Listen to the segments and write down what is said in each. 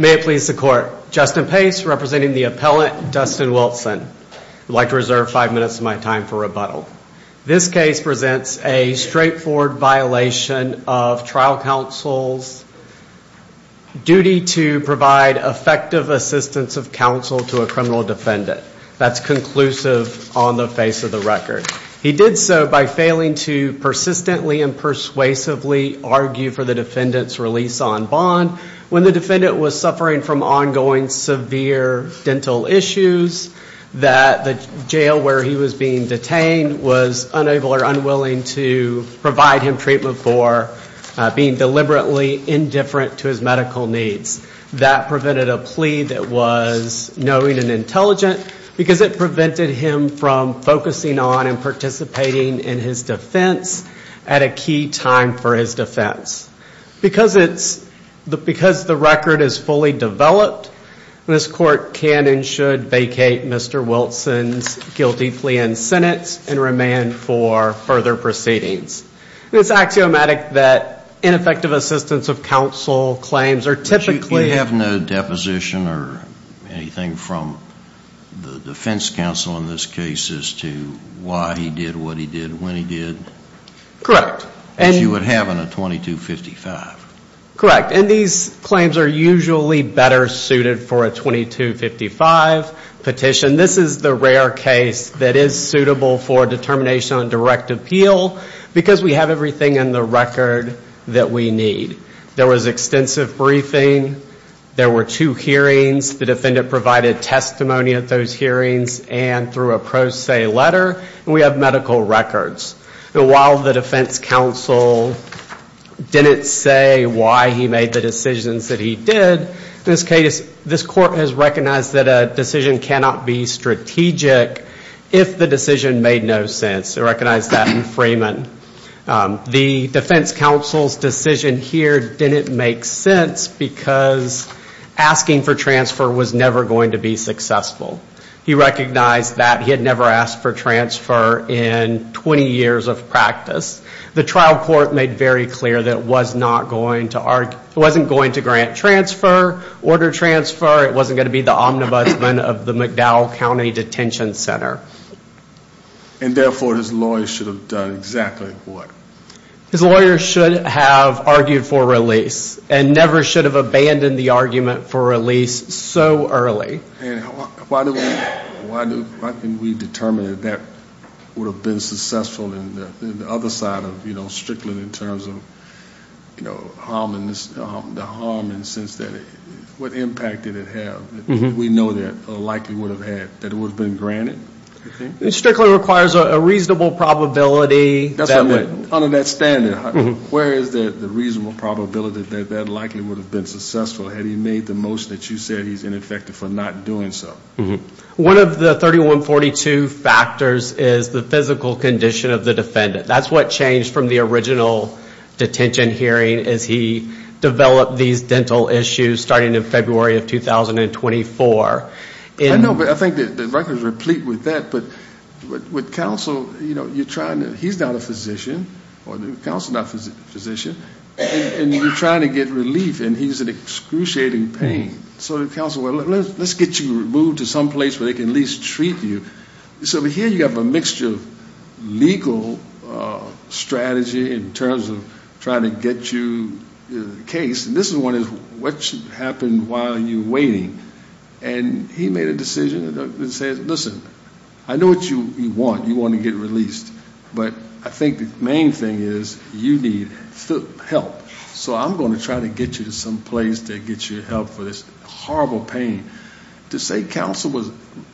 May it please the court, Justin Pace representing the appellant Dustin Wilson. I'd like to reserve five minutes of my time for rebuttal. This case presents a straightforward violation of trial counsel's duty to provide effective assistance of counsel to a criminal defendant. That's conclusive on the face of the record. He did so by failing to persistently and persuasively argue for the defendant's release on bond when the defendant was suffering from ongoing severe dental issues, that the jail where he was being detained was unable or unwilling to provide him treatment for being deliberately indifferent to his medical needs. That prevented a plea that was knowing and intelligent because it prevented him from focusing on and participating in his defense at a key time for his defense. Because it's, because the record is fully developed, this court can and should vacate Mr. Wilson's guilty plea in sentence and remand for further proceedings. It's axiomatic that ineffective assistance of counsel claims are typically. You have no deposition or anything from the defense counsel in this case as to why he did what he did, when he did? Correct. As you would have in a 2255. Correct. And these claims are usually better suited for a 2255 petition. This is the rare case that is suitable for determination on direct appeal because we have everything in the record that we need. There was extensive briefing. There were two hearings. The defendant provided testimony at those hearings and through a pro se letter. And we have medical records. And while the defense counsel didn't say why he made the decisions that he did, in this case this court has recognized that a decision cannot be strategic if the decision made no sense. They recognized that in Freeman. The defense counsel's decision here didn't make sense because asking for transfer was never going to be successful. He recognized that he had never asked for transfer in 20 years of practice. The trial court made very clear that it wasn't going to grant transfer, order transfer. It wasn't going to be the omnibusman of the McDowell County Detention Center. And therefore his lawyer should have done exactly what? His lawyer should have argued for release and never should have abandoned the argument for release so early. And why didn't we determine that that would have been successful in the other side of, you know, Strickland in terms of, you know, the harm in the sense that what impact did it have? We know that it likely would have been granted. Strickland requires a reasonable probability. That's what I meant. Under that standard, where is the reasonable probability that that likely would have been successful? Had he made the motion that you said he's ineffective for not doing so? One of the 3142 factors is the physical condition of the defendant. That's what changed from the original detention hearing as he developed these dental issues starting in February of 2024. I know, but I think the record is replete with that. But with counsel, you know, you're trying to, he's not a physician, or the counsel's not a physician, and you're trying to get relief, and he's in excruciating pain. So the counsel, well, let's get you removed to some place where they can at least treat you. So here you have a mixture of legal strategy in terms of trying to get you a case. And this one is what should happen while you're waiting. And he made a decision that said, listen, I know what you want. You want to get released. But I think the main thing is you need help. So I'm going to try to get you to some place to get you help for this horrible pain. To say counsel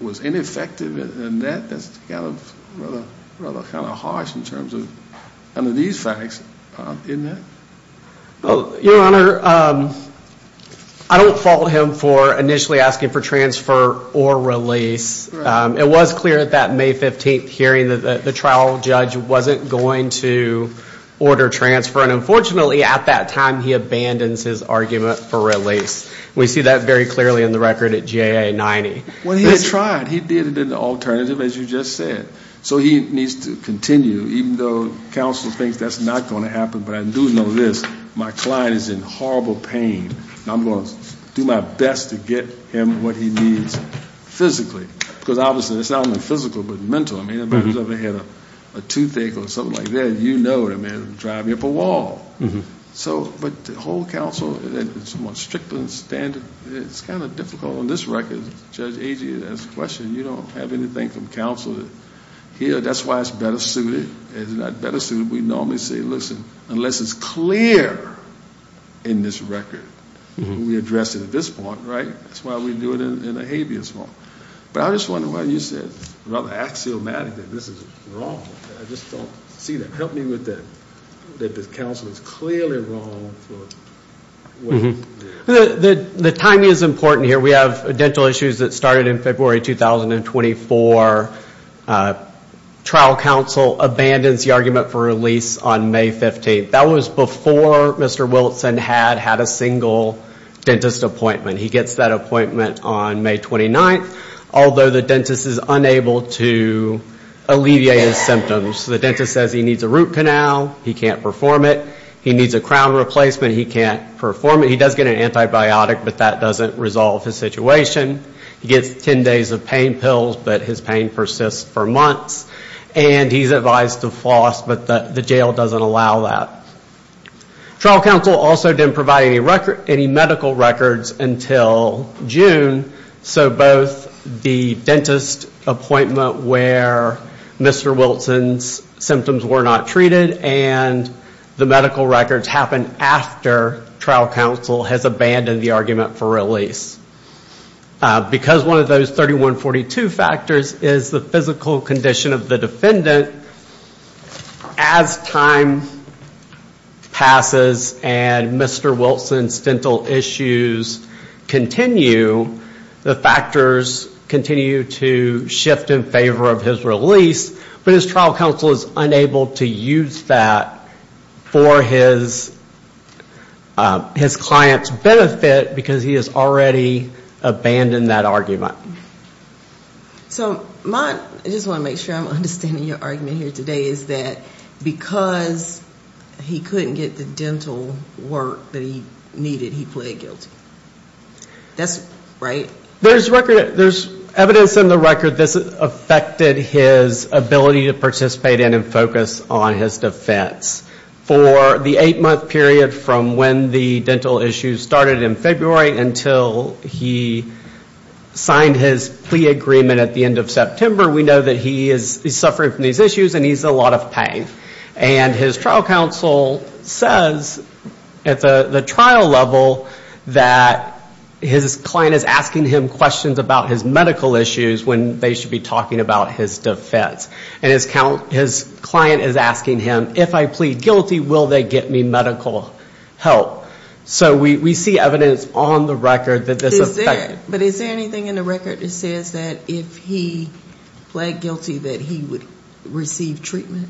was ineffective in that, that's kind of harsh in terms of, under these facts, isn't it? Your Honor, I don't fault him for initially asking for transfer or release. It was clear at that May 15th hearing that the trial judge wasn't going to order transfer. And unfortunately, at that time, he abandons his argument for release. We see that very clearly in the record at GA 90. Well, he tried. He did an alternative, as you just said. So he needs to continue, even though counsel thinks that's not going to happen. But I do know this. My client is in horrible pain. I'm going to do my best to get him what he needs physically. Because obviously, it's not only physical, but mental. I mean, if anybody's ever had a toothache or something like that, you know what I mean, it would drive you up a wall. So, but the whole counsel, it's more strict than standard. It's kind of difficult on this record. Judge Agee, that's the question. You don't have anything from counsel here. That's why it's better suited. It's not better suited. We normally say, listen, unless it's clear in this record, we address it at this point, right? That's why we do it in a habeas form. But I'm just wondering why you said, rather axiomatic, that this is wrong. I just don't see that. Help me with that. That the counsel is clearly wrong for what is there. The timing is important here. We have dental issues that started in February 2024. Trial counsel abandons the argument for release on May 15th. That was before Mr. Wilson had had a single dentist appointment. He gets that appointment on May 29th, although the dentist is unable to alleviate his symptoms. The dentist says he needs a root canal. He can't perform it. He needs a crown replacement. He can't perform it. He does get an antibiotic, but that doesn't resolve his situation. He gets 10 days of pain pills, but his pain persists for months. And he's advised to floss, but the jail doesn't allow that. Trial counsel also didn't provide any medical records until June. So both the dentist appointment where Mr. Wilson's symptoms were not treated and the medical records happened after trial counsel has abandoned the argument for release. Because one of those 3142 factors is the physical condition of the defendant, as time passes and Mr. Wilson's dental issues continue, the factors continue to shift in favor of his release, but his trial counsel is unable to use that for his client's benefit because he has already abandoned that argument. So my, I just want to make sure I'm understanding your argument here today, is that because he couldn't get the dental work that he needed, he pleaded guilty. That's, right? There's record, there's evidence in the record that this affected his ability to participate in and focus on his defense. For the 8-month period from when the dental issues started in February until he signed his plea agreement at the end of September, we know that he is suffering from these issues and he's in a lot of pain. And his trial counsel says at the trial level that his client is asking him questions about his medical issues when they should be talking about his defense. And his client is asking him, if I plead guilty, will they get me medical help? So we see evidence on the record that this affected. But is there anything in the record that says that if he pled guilty that he would receive treatment?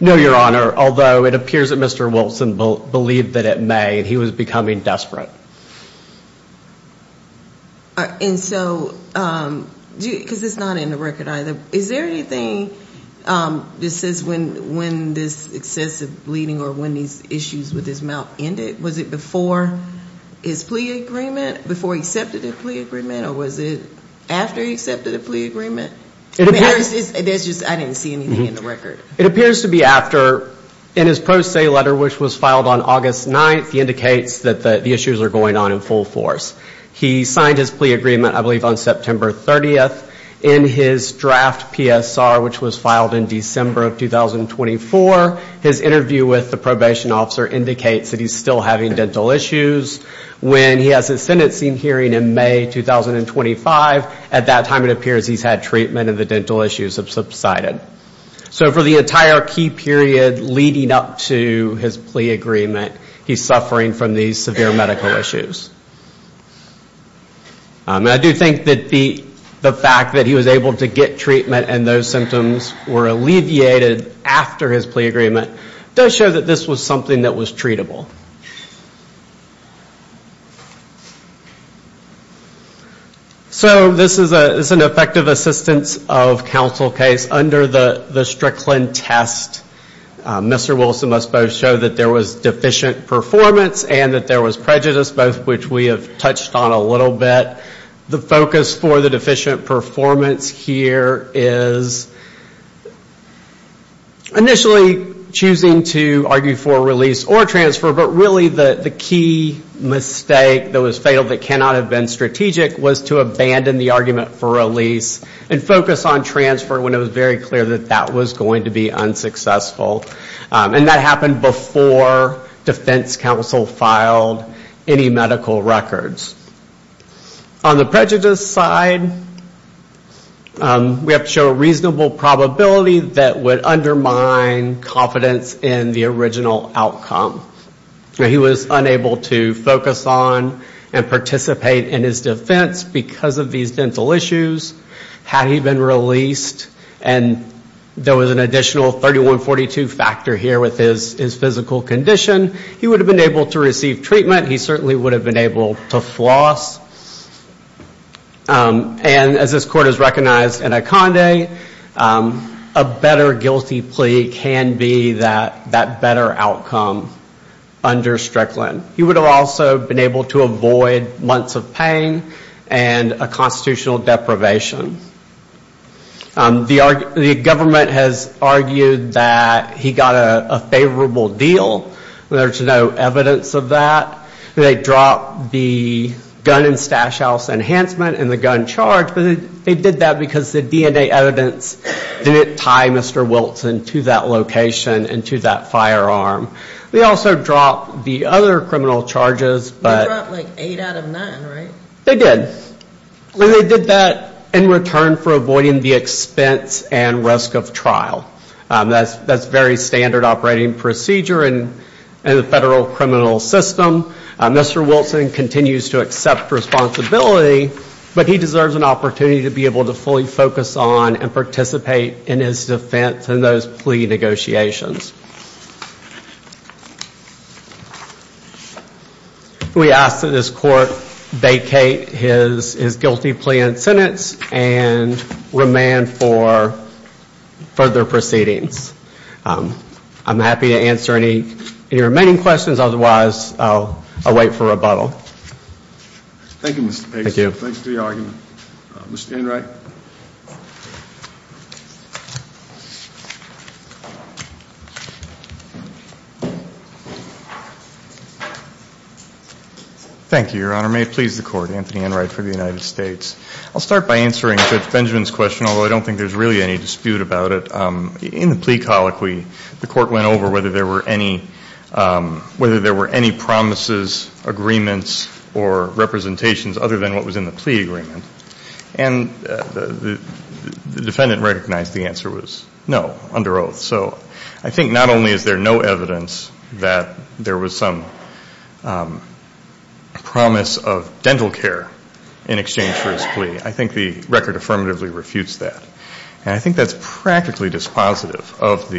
No, Your Honor, although it appears that Mr. Wilson believed that it may. He was becoming desperate. And so, because it's not in the record either, is there anything that says when this excessive bleeding or when these issues with his mouth ended? Was it before his plea agreement, before he accepted the plea agreement, or was it after he accepted the plea agreement? I didn't see anything in the record. It appears to be after. In his pro se letter, which was filed on August 9th, he indicates that the issues are going on in full force. He signed his plea agreement, I believe, on September 30th. In his draft PSR, which was filed in December of 2024, his interview with the probation officer indicates that he's still having dental issues. When he has his sentencing hearing in May 2025, at that time it appears he's had treatment and the dental issues have subsided. So for the entire key period leading up to his plea agreement, he's suffering from these severe medical issues. I do think that the fact that he was able to get treatment and those symptoms were alleviated after his plea agreement, does show that this was something that was treatable. So this is an effective assistance of counsel case. Under the Strickland test, Mr. Wilson must both show that there was deficient performance and that there was prejudice, both of which we have touched on a little bit. The focus for the deficient performance here is initially choosing to argue for release or transfer, but really the key mistake that was fatal that cannot have been strategic was to abandon the argument for release and focus on transfer when it was very clear that that was going to be unsuccessful. And that happened before defense counsel filed any medical records. On the prejudice side, we have to show a reasonable probability that would undermine confidence in the original outcome. He was unable to focus on and participate in his defense because of these dental issues. Had he been released and there was an additional 3142 factor here with his physical condition, he would have been able to receive treatment. He certainly would have been able to floss. And as this court has recognized in Iconde, a better guilty plea can be that better outcome under Strickland. He would have also been able to avoid months of pain and a constitutional deprivation. The government has argued that he got a favorable deal. There's no evidence of that. They dropped the gun and stash house enhancement and the gun charge, but they did that because the DNA evidence didn't tie Mr. Wilton to that location and to that firearm. They also dropped the other criminal charges. They dropped like eight out of nine, right? They did. And they did that in return for avoiding the expense and risk of trial. That's very standard operating procedure in the federal criminal system. Mr. Wilton continues to accept responsibility, but he deserves an opportunity to be able to fully focus on and participate in his defense and those plea negotiations. We ask that this court vacate his guilty plea and sentence and remand for further proceedings. I'm happy to answer any remaining questions. Otherwise, I'll wait for rebuttal. Thank you, Mr. Page. Thank you. Thanks for your argument. Mr. Enright. Thank you, Your Honor. May it please the court. Anthony Enright for the United States. I'll start by answering Judge Benjamin's question, although I don't think there's really any dispute about it. In the plea colloquy, the court went over whether there were any promises, agreements, or representations other than what was in the plea agreement. And the defendant recognized the answer was no, under oath. So I think not only is there no evidence that there was some promise of dental care in exchange for his plea, I think the record affirmatively refutes that. And I think that's practically dispositive of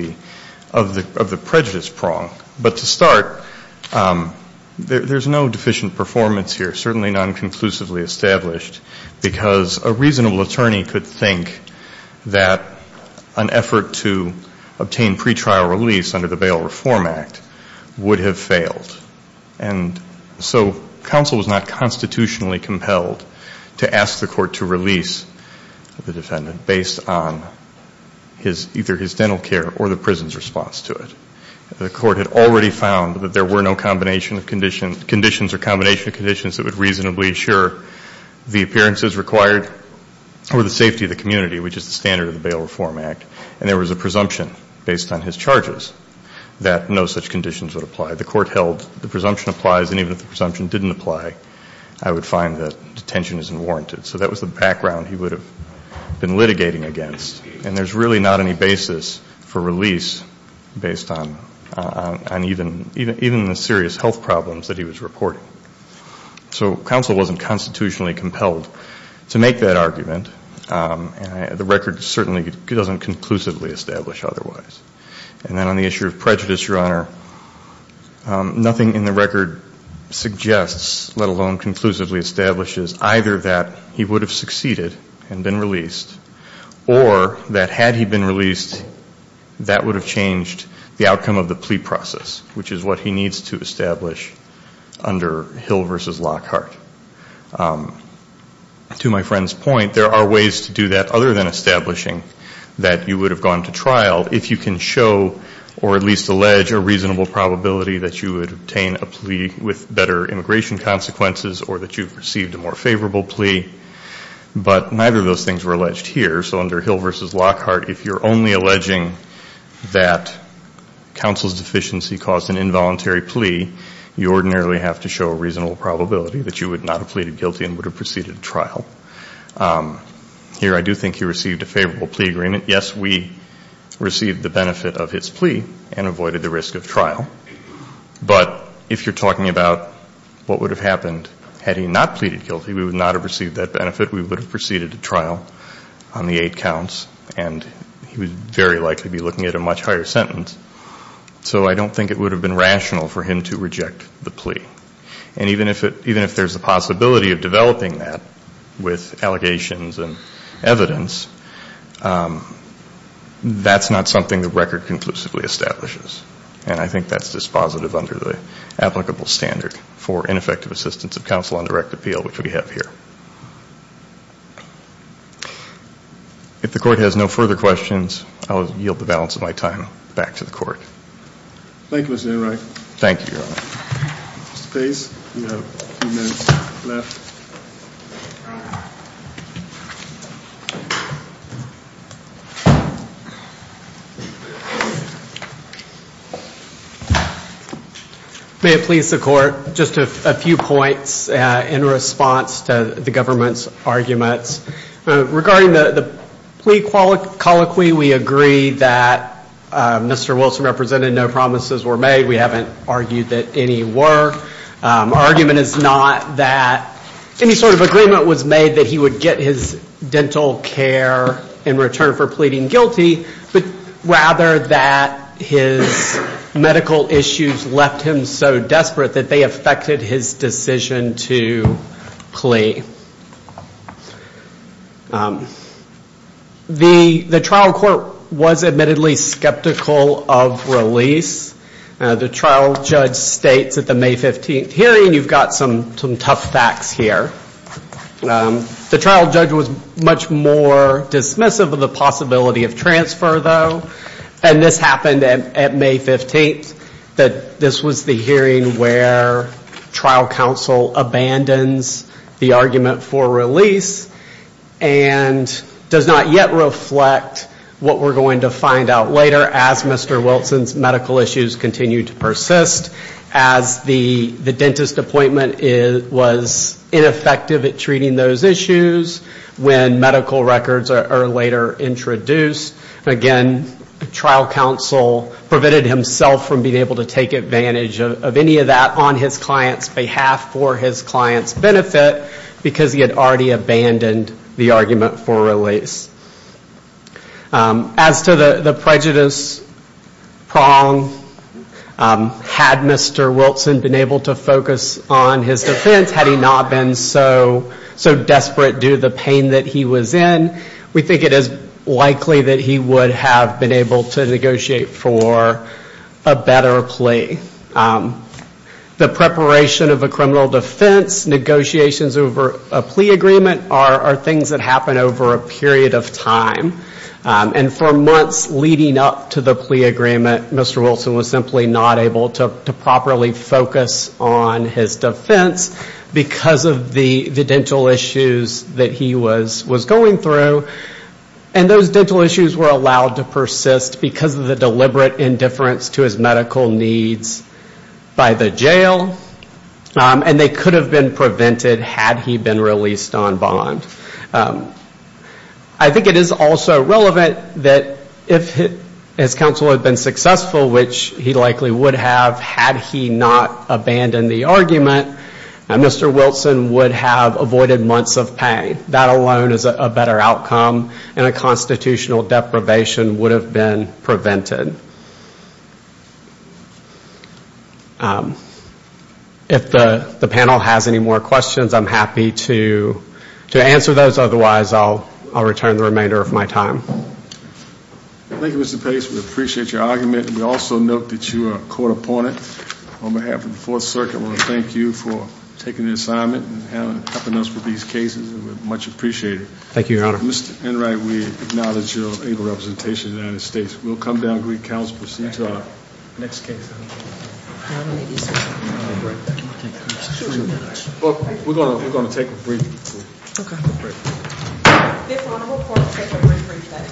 the prejudice prong. But to start, there's no deficient performance here, certainly non-conclusively established, because a reasonable attorney could think that an effort to obtain pretrial release under the Bail Reform Act would have failed. And so counsel was not constitutionally compelled to ask the court to release the defendant based on either his dental care or the prison's response to it. The court had already found that there were no conditions or combination of conditions that would reasonably assure the appearances required or the safety of the community, which is the standard of the Bail Reform Act. And there was a presumption based on his charges that no such conditions would apply. The court held the presumption applies, and even if the presumption didn't apply, I would find that detention isn't warranted. So that was the background he would have been litigating against. And there's really not any basis for release based on even the serious health problems that he was reporting. So counsel wasn't constitutionally compelled to make that argument. The record certainly doesn't conclusively establish otherwise. And then on the issue of prejudice, Your Honor, nothing in the record suggests, let alone conclusively establishes, either that he would have succeeded and been released or that had he been released, that would have changed the outcome of the plea process, which is what he needs to establish under Hill v. Lockhart. To my friend's point, there are ways to do that other than establishing that you would have gone to trial if you can show or at least allege a reasonable probability that you would obtain a plea with better immigration consequences or that you've received a more favorable plea. But neither of those things were alleged here. So under Hill v. Lockhart, if you're only alleging that counsel's deficiency caused an involuntary plea, you ordinarily have to show a reasonable probability that you would not have pleaded guilty and would have proceeded to trial. Here I do think he received a favorable plea agreement. Yes, we received the benefit of his plea and avoided the risk of trial. But if you're talking about what would have happened had he not pleaded guilty, we would not have received that benefit. We would have proceeded to trial on the eight counts and he would very likely be looking at a much higher sentence. So I don't think it would have been rational for him to reject the plea. And even if there's a possibility of developing that with allegations and evidence, that's not something the record conclusively establishes. And I think that's dispositive under the applicable standard for ineffective assistance of counsel on direct appeal, which we have here. If the court has no further questions, I'll yield the balance of my time back to the court. Thank you, Mr. Enright. Thank you, Your Honor. Mr. Pace, you have a few minutes left. Thank you. May it please the court, just a few points in response to the government's arguments. Regarding the plea colloquy, we agree that Mr. Wilson represented no promises were made. We haven't argued that any were. Our argument is not that any sort of agreement was made that he would get his dental care in return for pleading guilty, but rather that his medical issues left him so desperate that they affected his decision to plea. The trial court was admittedly skeptical of release. The trial judge states at the May 15th hearing, you've got some tough facts here. The trial judge was much more dismissive of the possibility of transfer, though. And this happened at May 15th. This was the hearing where trial counsel abandons the argument for release and does not yet reflect what we're going to find out later as Mr. Wilson's medical issues continue to persist, as the dentist appointment was ineffective at treating those issues when medical records are later introduced. Again, trial counsel prevented himself from being able to take advantage of any of that on his client's behalf for his client's benefit because he had already abandoned the argument for release. As to the prejudice prong, had Mr. Wilson been able to focus on his defense, had he not been so desperate due to the pain that he was in, we think it is likely that he would have been able to negotiate for a better plea. The preparation of a criminal defense negotiations over a plea agreement are things that happen over a period of time. And for months leading up to the plea agreement, Mr. Wilson was simply not able to properly focus on his defense because of the dental issues that he was going through. And those dental issues were allowed to persist because of the deliberate indifference to his medical needs by the jail. And they could have been prevented had he been released on bond. I think it is also relevant that if his counsel had been successful, which he likely would have had he not abandoned the argument, Mr. Wilson would have avoided months of pain. That alone is a better outcome, and a constitutional deprivation would have been prevented. If the panel has any more questions, I'm happy to answer those. Otherwise, I'll return the remainder of my time. Thank you, Mr. Pace. We appreciate your argument. We also note that you are a court opponent. On behalf of the Fourth Circuit, we want to thank you for taking the assignment and helping us with these cases. We much appreciate it. Thank you, Your Honor. Mr. Enright, we acknowledge your able representation in the United States. We'll come down and greet counsel as we proceed to our next case. Thank you, Mr. Enright. Thank you so much. We're going to take a briefing. Okay. Briefing. Fifth Honorable Court will take a briefing today.